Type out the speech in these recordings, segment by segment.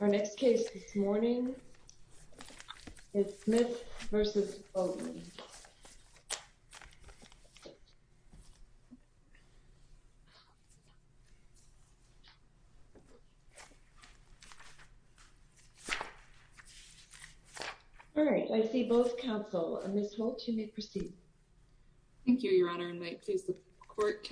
Our next case this morning is Smith v. Bogley All right, I see both counsel. Ms. Holt, you may proceed. Thank you, Your Honor, and may it please the Court.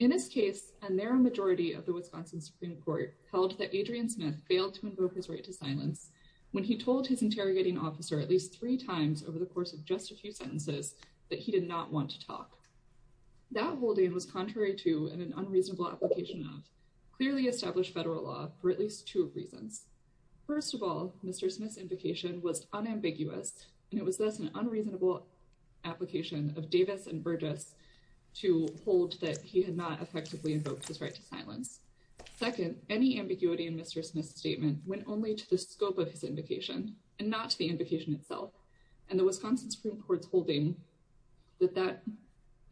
In this case, a narrow majority of the Wisconsin Supreme Court held that Adrian Smith failed to invoke his right to silence when he told his interrogating officer at least three times over the course of just a few sentences that he did not want to talk. That holding was contrary to and an unreasonable application of clearly established federal law for at least two reasons. First of all, Mr. Smith's invocation was unambiguous, and he effectively invoked his right to silence. Second, any ambiguity in Mr. Smith's statement went only to the scope of his invocation and not to the invocation itself, and the Wisconsin Supreme Court's holding that that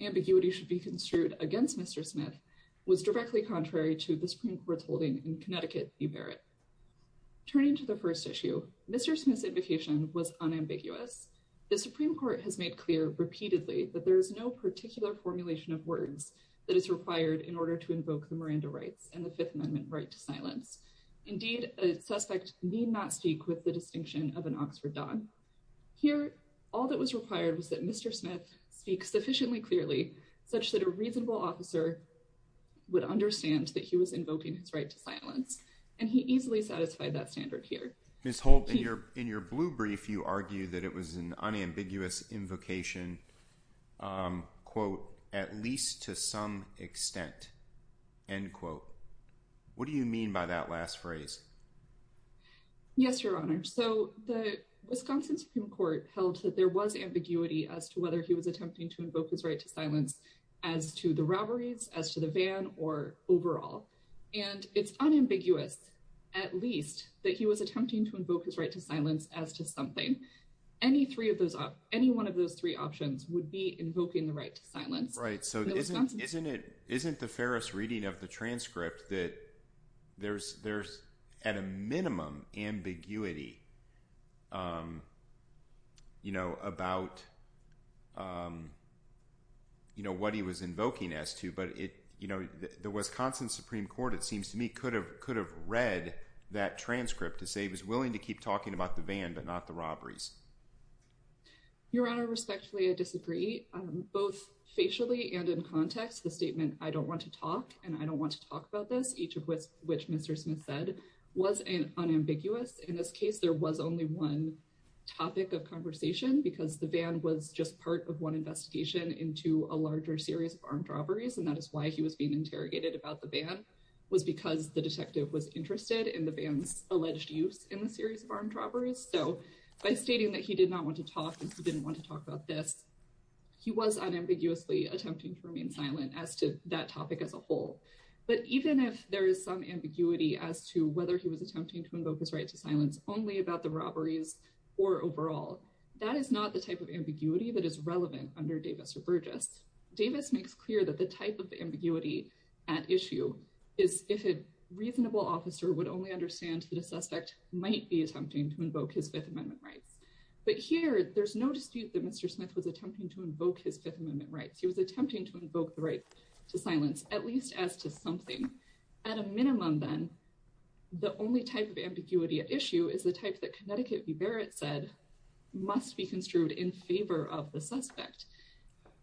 ambiguity should be construed against Mr. Smith was directly contrary to the Supreme Court's holding in Connecticut v. Barrett. Turning to the first issue, Mr. Smith's invocation was unambiguous. The Supreme Court has made clear repeatedly that there is no particular formulation of words that is required in order to invoke the Miranda rights and the Fifth Amendment right to silence. Indeed, a suspect need not speak with the distinction of an Oxford dog. Here, all that was required was that Mr. Smith speak sufficiently clearly such that a reasonable officer would understand that he was invoking his right to silence, and he easily satisfied that standard here. Ms. Holt, in your blue brief, you argue that it was an unambiguous invocation, quote, at least to some extent, end quote. What do you mean by that last phrase? Yes, Your Honor. So the Wisconsin Supreme Court held that there was ambiguity as to whether he was attempting to invoke his right to silence as to the robberies, as to the van, or overall. And it's unambiguous, at least that he was attempting to invoke his right to silence as to something. Any three of those, any one of those three options would be invoking the right to silence. Right. So isn't it isn't the fairest reading of the transcript that there's there's a minimum ambiguity, you know, about, you know, what he was invoking as to but it, you know, the Wisconsin Supreme Court, it seems to me could have could have read that transcript to say he was willing to keep talking about the van but not the robberies. Your Honor, respectfully, I disagree, both facially and in context, the statement, I don't want to talk and I don't want to talk about this, each of which, which Mr. Smith said, was an unambiguous. In this case, there was only one topic of conversation because the van was just part of one investigation into a larger series of armed robberies. And that is why he was being interrogated about the van was because the detective was interested in the van's alleged use in the series of armed robberies. So by stating that he did not want to talk, he didn't want to talk about this. He was unambiguously attempting to remain silent as to that topic as a whole. But even if there is some ambiguity as to whether he was attempting to invoke his right to silence only about the robberies, or overall, that is not the type of ambiguity that is relevant under Davis or Burgess. Davis makes clear that the type of ambiguity at issue is if a reasonable officer would only understand that a suspect might be attempting to invoke his Fifth Amendment rights. But here, there's no dispute that Mr. Smith was attempting to invoke the right to silence at least as to something. At a minimum, then, the only type of ambiguity at issue is the type that Connecticut v. Barrett said, must be construed in favor of the suspect.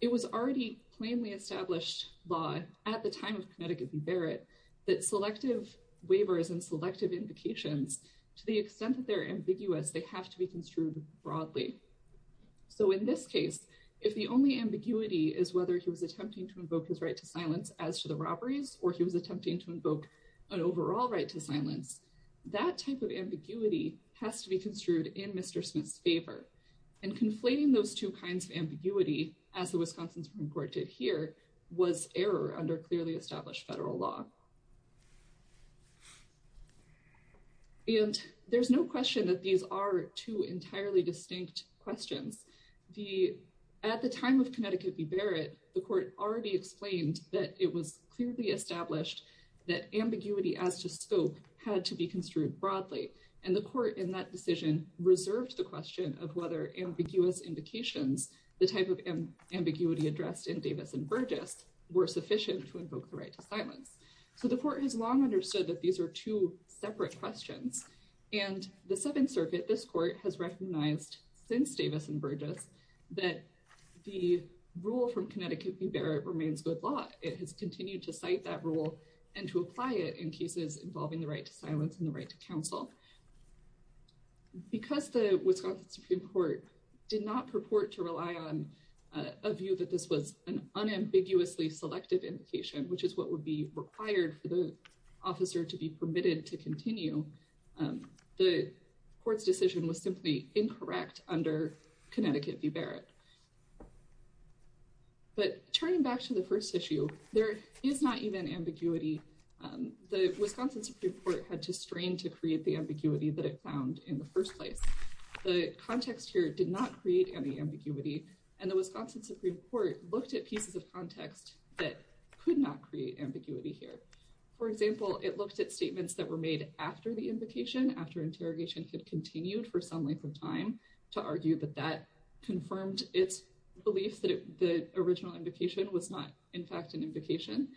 It was already plainly established law at the time of Connecticut v. Barrett, that selective waivers and selective invocations, to the extent that they're ambiguous, they have to be construed broadly. So in this case, if the only ambiguity is whether he was attempting to invoke his right to silence as to the robberies, or he was attempting to invoke an overall right to silence, that type of ambiguity has to be construed in Mr. Smith's favor. And conflating those two kinds of ambiguity, as the Wisconsin Supreme Court did here, was error under clearly established federal law. And there's no question that these are two entirely distinct questions. At the time of Connecticut v. Barrett, the court already explained that it was clearly established that ambiguity as to scope had to be construed broadly. And the court in that decision reserved the question of whether ambiguous invocations, the type of ambiguity addressed in Davis and Burgess, were sufficient to invoke the right to silence. So the court has long understood that these are two separate questions. And the Seventh Circuit, this court, has recognized since Davis and Burgess, that the rule from Connecticut v. Barrett remains good law. It has continued to cite that rule and to apply it in cases involving the right to silence and the right to counsel. Because the Wisconsin Supreme Court did not purport to rely on a view that this was an unambiguously selective invocation, which is what would be required for the officer to be permitted to continue, the court's decision was simply incorrect under Connecticut v. Barrett. But turning back to the first issue, there is not even ambiguity. The Wisconsin Supreme Court had to strain to create the ambiguity that it found in the first place. The context here did not create any ambiguity. And the Wisconsin Supreme Court looked at pieces of context that could not create ambiguity here. For example, it looked at statements that were made after the invocation, after interrogation had continued for some length of time, to argue that that confirmed its belief that the original invocation was not, in fact, an invocation.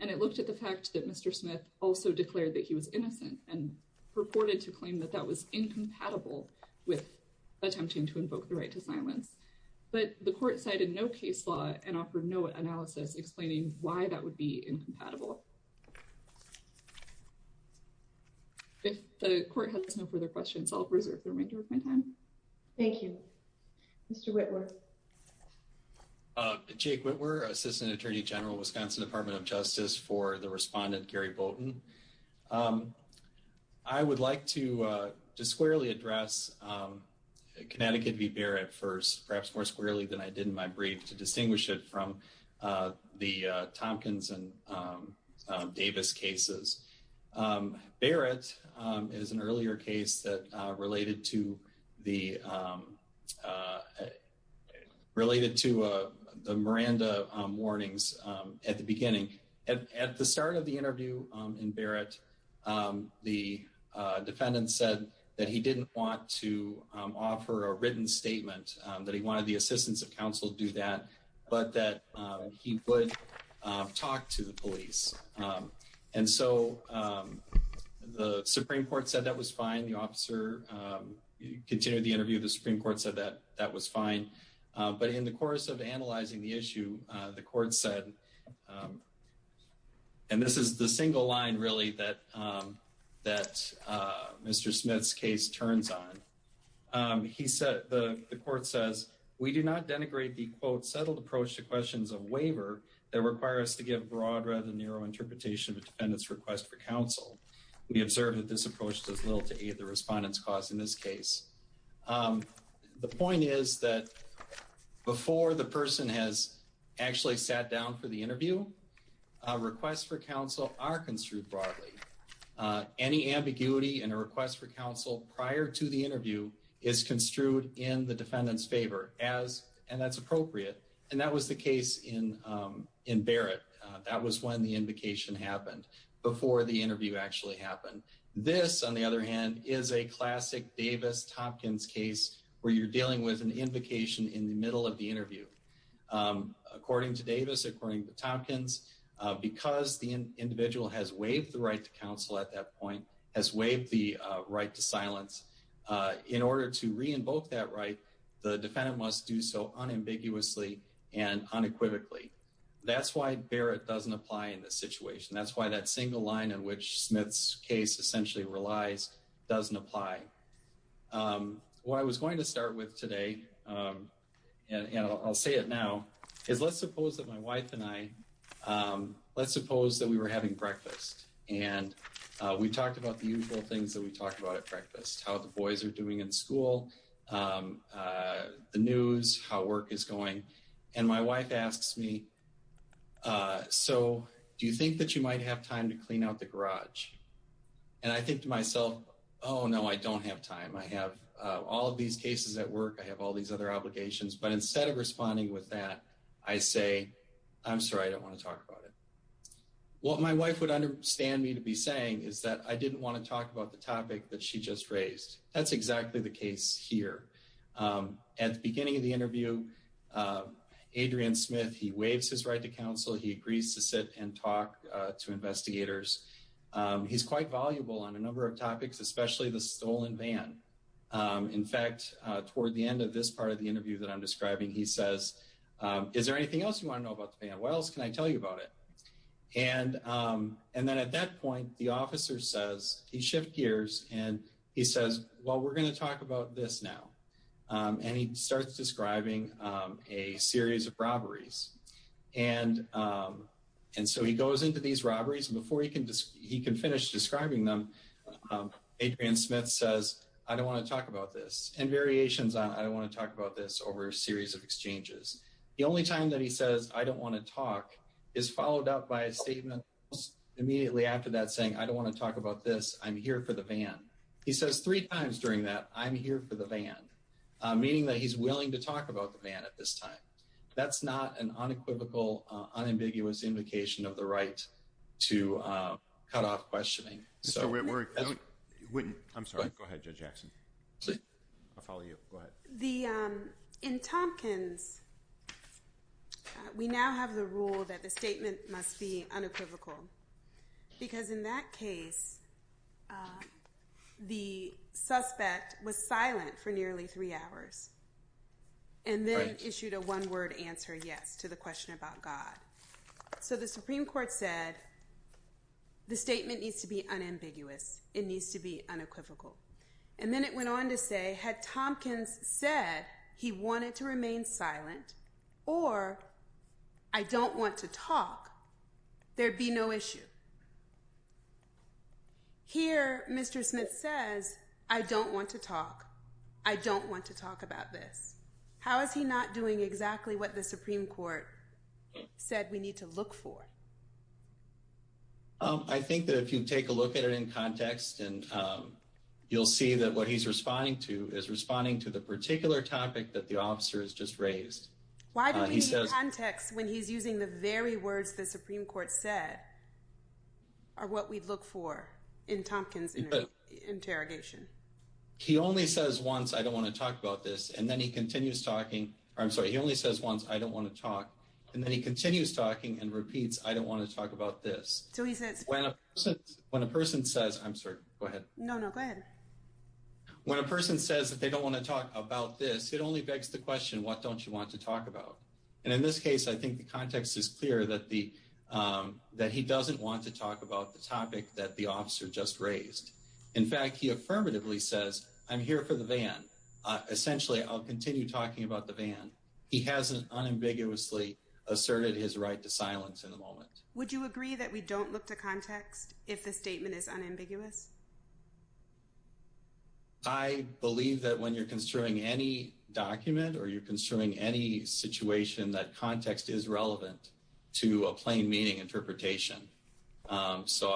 And it looked at that Mr. Smith also declared that he was innocent and purported to claim that that was incompatible with attempting to invoke the right to silence. But the court cited no case law and offered no analysis explaining why that would be incompatible. If the court has no further questions, I'll reserve the remainder of my time. Thank you. Mr. Whitworth. Jake Whitworth, Assistant Attorney General, Wisconsin Department of Justice for the respondent, Gary Bolton. I would like to squarely address Connecticut v. Barrett first, perhaps more squarely than I did in my brief, to distinguish it from the Tompkins and Davis cases. Barrett is an earlier case that related to the Miranda warnings at the beginning, at the start of the interview in Barrett, the defendant said that he didn't want to offer a written statement, that he wanted the assistance of counsel to do that, but that he would talk to the police. And so the Supreme Court said that was fine. The officer continued the interview. The Supreme Court said that that was fine. But in the course of analyzing the issue, the court said, and this is the single line really that Mr. Smith's case turns on, he said, the court says, we do not denigrate the quote, settled approach to questions of waiver that require us to give broad, rather narrow interpretation of a defendant's request for counsel. We observed that this approach does little to aid the respondent's cause in this case. The point is that before the person has actually sat down for the interview, requests for counsel are construed broadly. Any ambiguity in a request for counsel prior to the interview is construed in the defendant's favor, and that's appropriate. And that was the case in Barrett. That was when the invocation happened, before the interview actually happened. This, on the other hand, is a classic Davis-Tompkins case where you're dealing with an invocation in the middle of the interview. According to Davis, according to Tompkins, because the individual has waived the right to counsel at that point, has waived the right to silence, in order to re-invoke that right, the defendant must do so unambiguously and unequivocally. That's why Barrett doesn't apply in this situation. That's why that single line in which Smith's case essentially relies doesn't apply. What I was going to start with today, and I'll say it now, is let's suppose that my wife and I, let's suppose that we were having breakfast, and we talked about the usual things that we talked about at breakfast, how the boys are doing in school, the news, how work is going, and my wife asks me, so do you think that you and I think to myself, oh no, I don't have time. I have all of these cases at work. I have all these other obligations, but instead of responding with that, I say, I'm sorry, I don't want to talk about it. What my wife would understand me to be saying is that I didn't want to talk about the topic that she just raised. That's exactly the case here. At the beginning of the interview, Adrian Smith, he waives his right to counsel. He agrees to sit and talk to investigators. He's quite voluble on a number of topics, especially the stolen van. In fact, toward the end of this part of the interview that I'm describing, he says, is there anything else you want to know about the van? What else can I tell you about it? And then at that point, the officer says, he shift gears, and he says, well, we're going to talk about this now, and he starts describing a series of exchanges. And so he goes into these robberies, and before he can finish describing them, Adrian Smith says, I don't want to talk about this, and variations on I don't want to talk about this over a series of exchanges. The only time that he says, I don't want to talk, is followed up by a statement immediately after that saying, I don't want to talk about this. I'm here for the van. He says three times during that, I'm here for the van, meaning that he's an unequivocal, unambiguous indication of the right to cut off questioning. Mr. Whitworth, I'm sorry. Go ahead, Judge Jackson. I'll follow you. Go ahead. In Tompkins, we now have the rule that the statement must be unequivocal, because in that the question about God. So the Supreme Court said, the statement needs to be unambiguous. It needs to be unequivocal. And then it went on to say, had Tompkins said he wanted to remain silent, or I don't want to talk, there'd be no issue. Here, Mr. Smith says, I don't want to talk. I don't want to talk about this. How is he not doing exactly what the Supreme Court said we need to look for? I think that if you take a look at it in context, and you'll see that what he's responding to is responding to the particular topic that the officer has just raised. Why do we need context when he's using the very words the Supreme Court said are what we'd look for in Tompkins' interrogation? He only says once, I don't want to talk about this. And then he continues talking. I'm sorry, he only says once, I don't want to talk. And then he continues talking and repeats, I don't want to talk about this. So he says, when a person says, I'm sorry, go ahead. No, no, go ahead. When a person says that they don't want to talk about this, it only begs the question, what don't you want to talk about? And in this case, I think the context is clear that the, that he doesn't want to talk about the topic that the officer just raised. In fact, he affirmatively says, I'm here for the van. Essentially, I'll continue talking about the van. He hasn't unambiguously asserted his right to silence in the moment. Would you agree that we don't look to context if the statement is unambiguous? I believe that when you're construing any document or you're construing any situation, that context is relevant to a plain meaning interpretation. So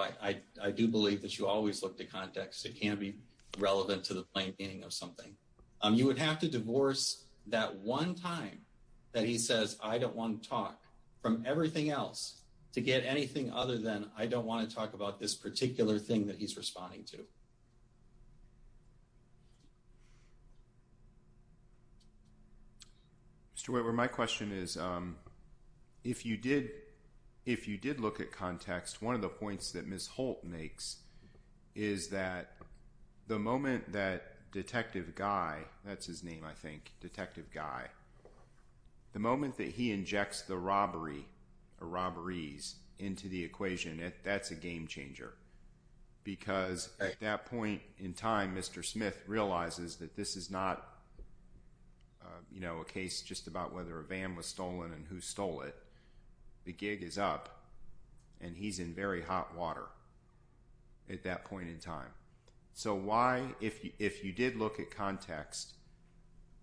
I do believe that you always look to context. It can be relevant to the plain meaning of something. You would have to divorce that one time that he says, I don't want to talk from everything else to get anything other than I don't want to talk about this particular thing that he's responding to. Stuart, my question is, if you did look at context, one of the points that Ms. Holt makes is that the moment that Detective Guy, that's his name, I think, Detective Guy, the moment that he injects the robbery or robberies into the equation, that's a game changer. Because at that point in time, Mr. Smith realizes that this is not a case just about whether a van was stolen and who stole it. The gig is up and he's in very hot water at that point in time. So why, if you did look at context,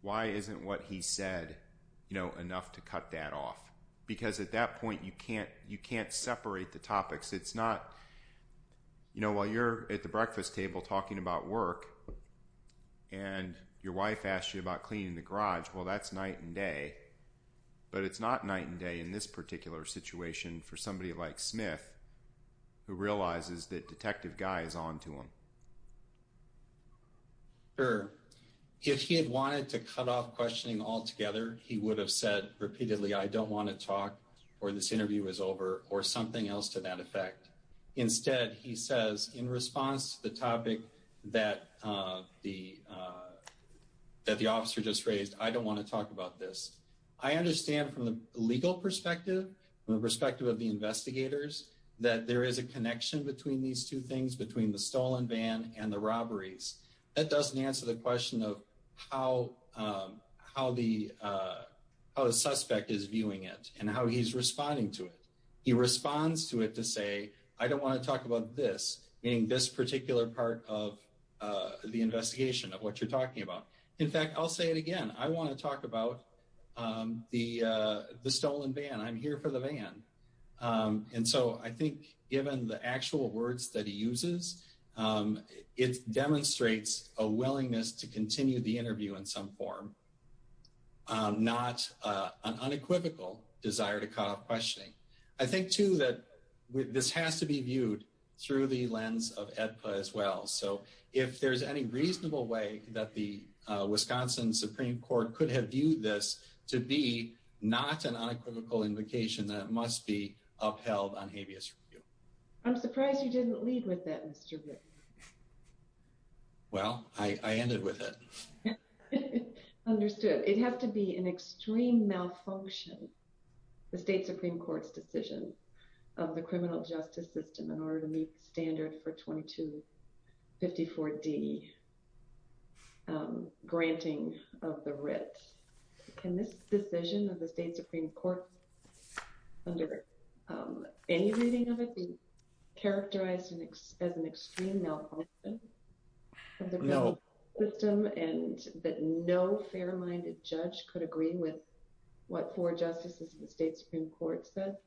why isn't what he said enough to cut that off? Because at that point, you can't separate the topics. It's not, you know, while you're at the breakfast table talking about work and your wife asks you about cleaning the garage, well, that's night and day. But it's not night and day in this particular situation for somebody like Smith, who realizes that Detective Guy is on to him. Sure. If he had wanted to cut off questioning altogether, he would have said repeatedly, I don't want to talk or this interview is over or something else to that effect. Instead, he says in response to the topic that the officer just raised, I don't want to talk about this. I understand from the legal perspective, from the perspective of the investigators, that there is a connection between these two things, between the stolen van and the robberies. That doesn't answer the question of how the suspect is viewing it and how he's responding to it. He responds to it to say, I don't want to talk about this, meaning this particular part of the investigation of what you're talking about. In fact, I'll say it again. I want to talk about the stolen van. I'm here for the van. And so I think given the actual words that he uses, it demonstrates a willingness to continue the interview in some form, not an unequivocal desire to cut off questioning. I think too, that this has to be viewed through the lens of AEDPA as well. So if there's any reasonable way that the Wisconsin Supreme Court could have viewed this to be not an unequivocal invocation that must be upheld on habeas review. I'm surprised you didn't lead with that, Mr. Ritt. Well, I ended with it. Understood. It has to be an extreme malfunction, the state Supreme Court's decision of the criminal justice system in order to meet the standard for 2254D granting of the writ. Can this decision of the state Supreme Court under any reading of it be characterized as an extreme malfunction of the criminal justice system and that no fair-minded judge could agree with what four justices of the state Supreme Court said?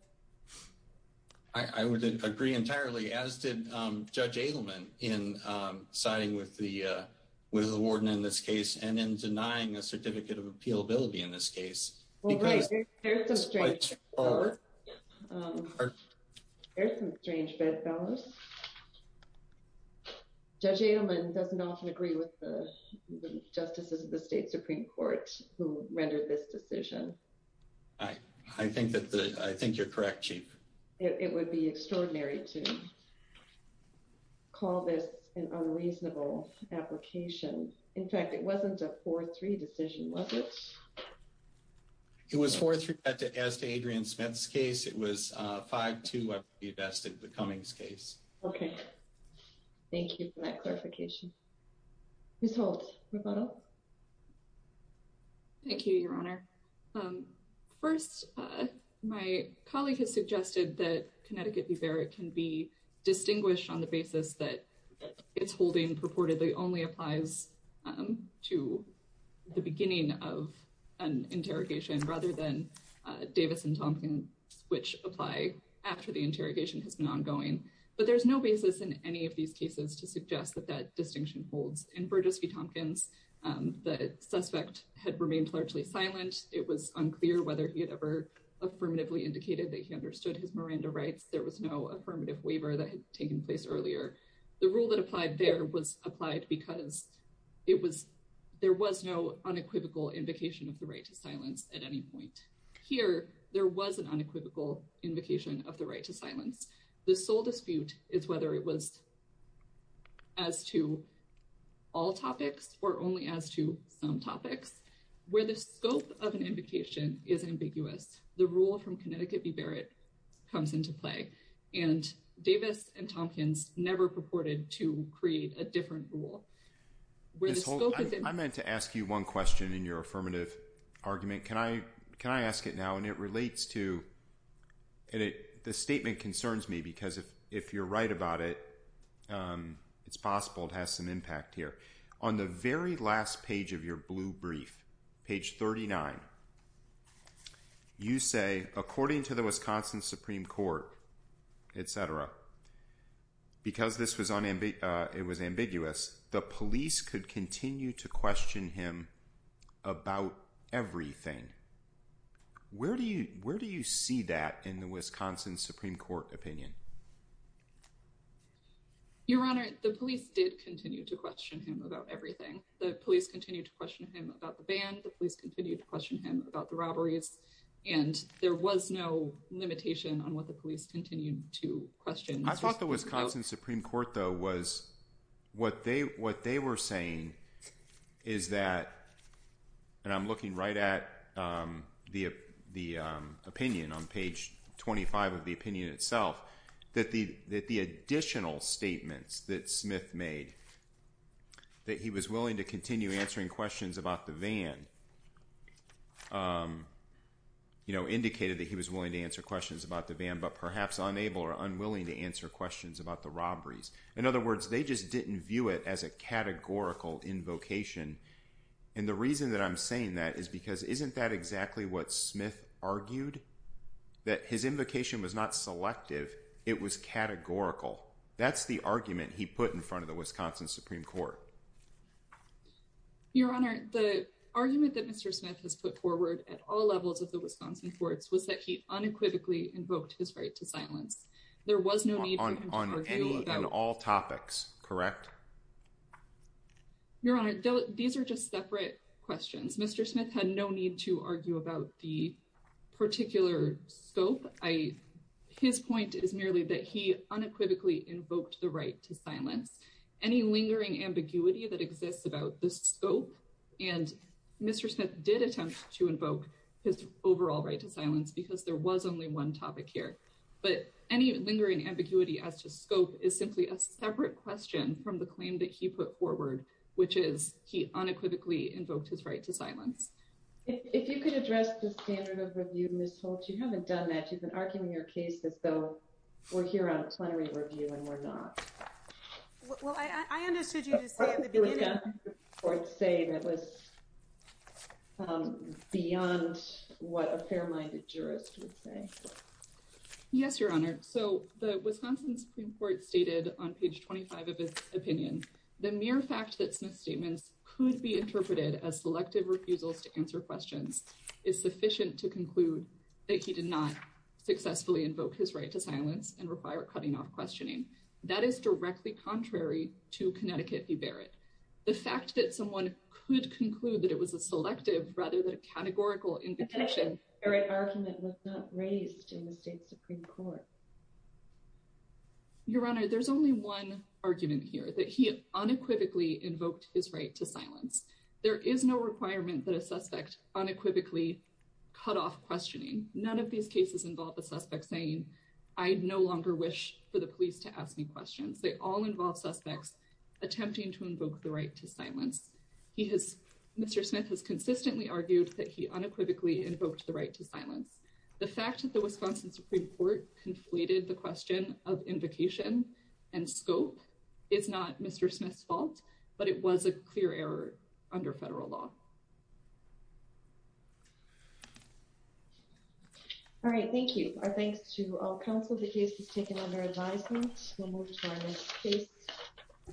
I would agree entirely, as did Judge Adelman in siding with the warden in this case and in denying a certificate of appealability in this case. There's some strange bedfellows. Judge Adelman doesn't often agree with the justices of the state Supreme Court who rendered this decision. I think you're correct, Chief. It would be extraordinary to call this an unreasonable application. In fact, it wasn't a 4-3 decision, was it? It was 4-3 as to Adrian Smith's case. It was 5-2 as to the Cummings case. Okay. Thank you for that clarification. Ms. Holt, rebuttal. Thank you, Your Honor. First, my colleague has suggested that Connecticut be fair. It can be distinguished on the basis that its holding purportedly only applies to the beginning of an interrogation rather than Davis and Tompkins, which apply after the interrogation has been ongoing. But there's no basis in any of these cases to suggest that that distinction holds. In Burgess v. Tompkins, the suspect had remained largely silent. It was unclear whether he had ever affirmatively indicated that he understood his Miranda rights. There was no affirmative waiver that had taken place earlier. The rule that applied there was applied because there was no unequivocal invocation of the right to silence at any point. Here, there was an unequivocal invocation of the right to silence. The sole dispute is whether it was as to all topics or only as to some topics. Where the scope of an invocation is ambiguous, the rule from Connecticut comes into play. Davis and Tompkins never purported to create a different rule. I meant to ask you one question in your affirmative argument. Can I ask it now? The statement concerns me because if you're right about it, it's possible it has some impact here. On the very last page of your blue brief, page 39, you say, according to the Wisconsin Supreme Court, et cetera, because this was ambiguous, the police could continue to question him about everything. Where do you see that in the Wisconsin Supreme Court opinion? Your Honor, the police did continue to question him about everything. The police continued to question him about the ban. The police continued to question him about the robberies. There was no limitation on what the police continued to question. I thought the Wisconsin Supreme Court, though, was what they were saying is that, and I'm looking right at the opinion on page 25 of the opinion itself, that the additional statements that Smith made, that he was willing to continue answering questions about the van, indicated that he was willing to answer questions about the van, but perhaps unable or unwilling to answer questions about the robberies. In other words, they just didn't view it as a categorical invocation. The reason that I'm saying that is because isn't that exactly what Smith put in front of the Wisconsin Supreme Court? Your Honor, the argument that Mr. Smith has put forward at all levels of the Wisconsin courts was that he unequivocally invoked his right to silence. There was no need for him to argue about- On all topics, correct? Your Honor, these are just separate questions. Mr. Smith had no need to argue about the right to silence. Any lingering ambiguity that exists about the scope, and Mr. Smith did attempt to invoke his overall right to silence because there was only one topic here, but any lingering ambiguity as to scope is simply a separate question from the claim that he put forward, which is he unequivocally invoked his right to silence. If you could address the standard of review, Ms. Holtz, you haven't done that. You've been arguing your case as though we're here on a plenary review and we're not. Well, I understood you to say in the beginning- What did the Wisconsin Supreme Court say that was beyond what a fair-minded jurist would say? Yes, Your Honor. The Wisconsin Supreme Court stated on page 25 of its opinion, the mere fact that Smith's statements could be interpreted as selective refusals to answer questions is sufficient to conclude that he did not successfully invoke his right to silence, and require cutting off questioning. That is directly contrary to Connecticut v. Barrett. The fact that someone could conclude that it was a selective rather than a categorical indication- Connecticut v. Barrett argument was not raised in the state Supreme Court. Your Honor, there's only one argument here, that he unequivocally invoked his right to silence. There is no requirement that a suspect unequivocally cut off questioning. None of these cases involve a suspect saying, I no longer wish for the police to ask me questions. They all involve suspects attempting to invoke the right to silence. Mr. Smith has consistently argued that he unequivocally invoked the right to silence. The fact that the Wisconsin Supreme Court conflated the question of invocation and scope is not Mr. Smith's fault, but it was a clear error under federal law. All right, thank you. Our thanks to all counsel. The case is taken under advisement.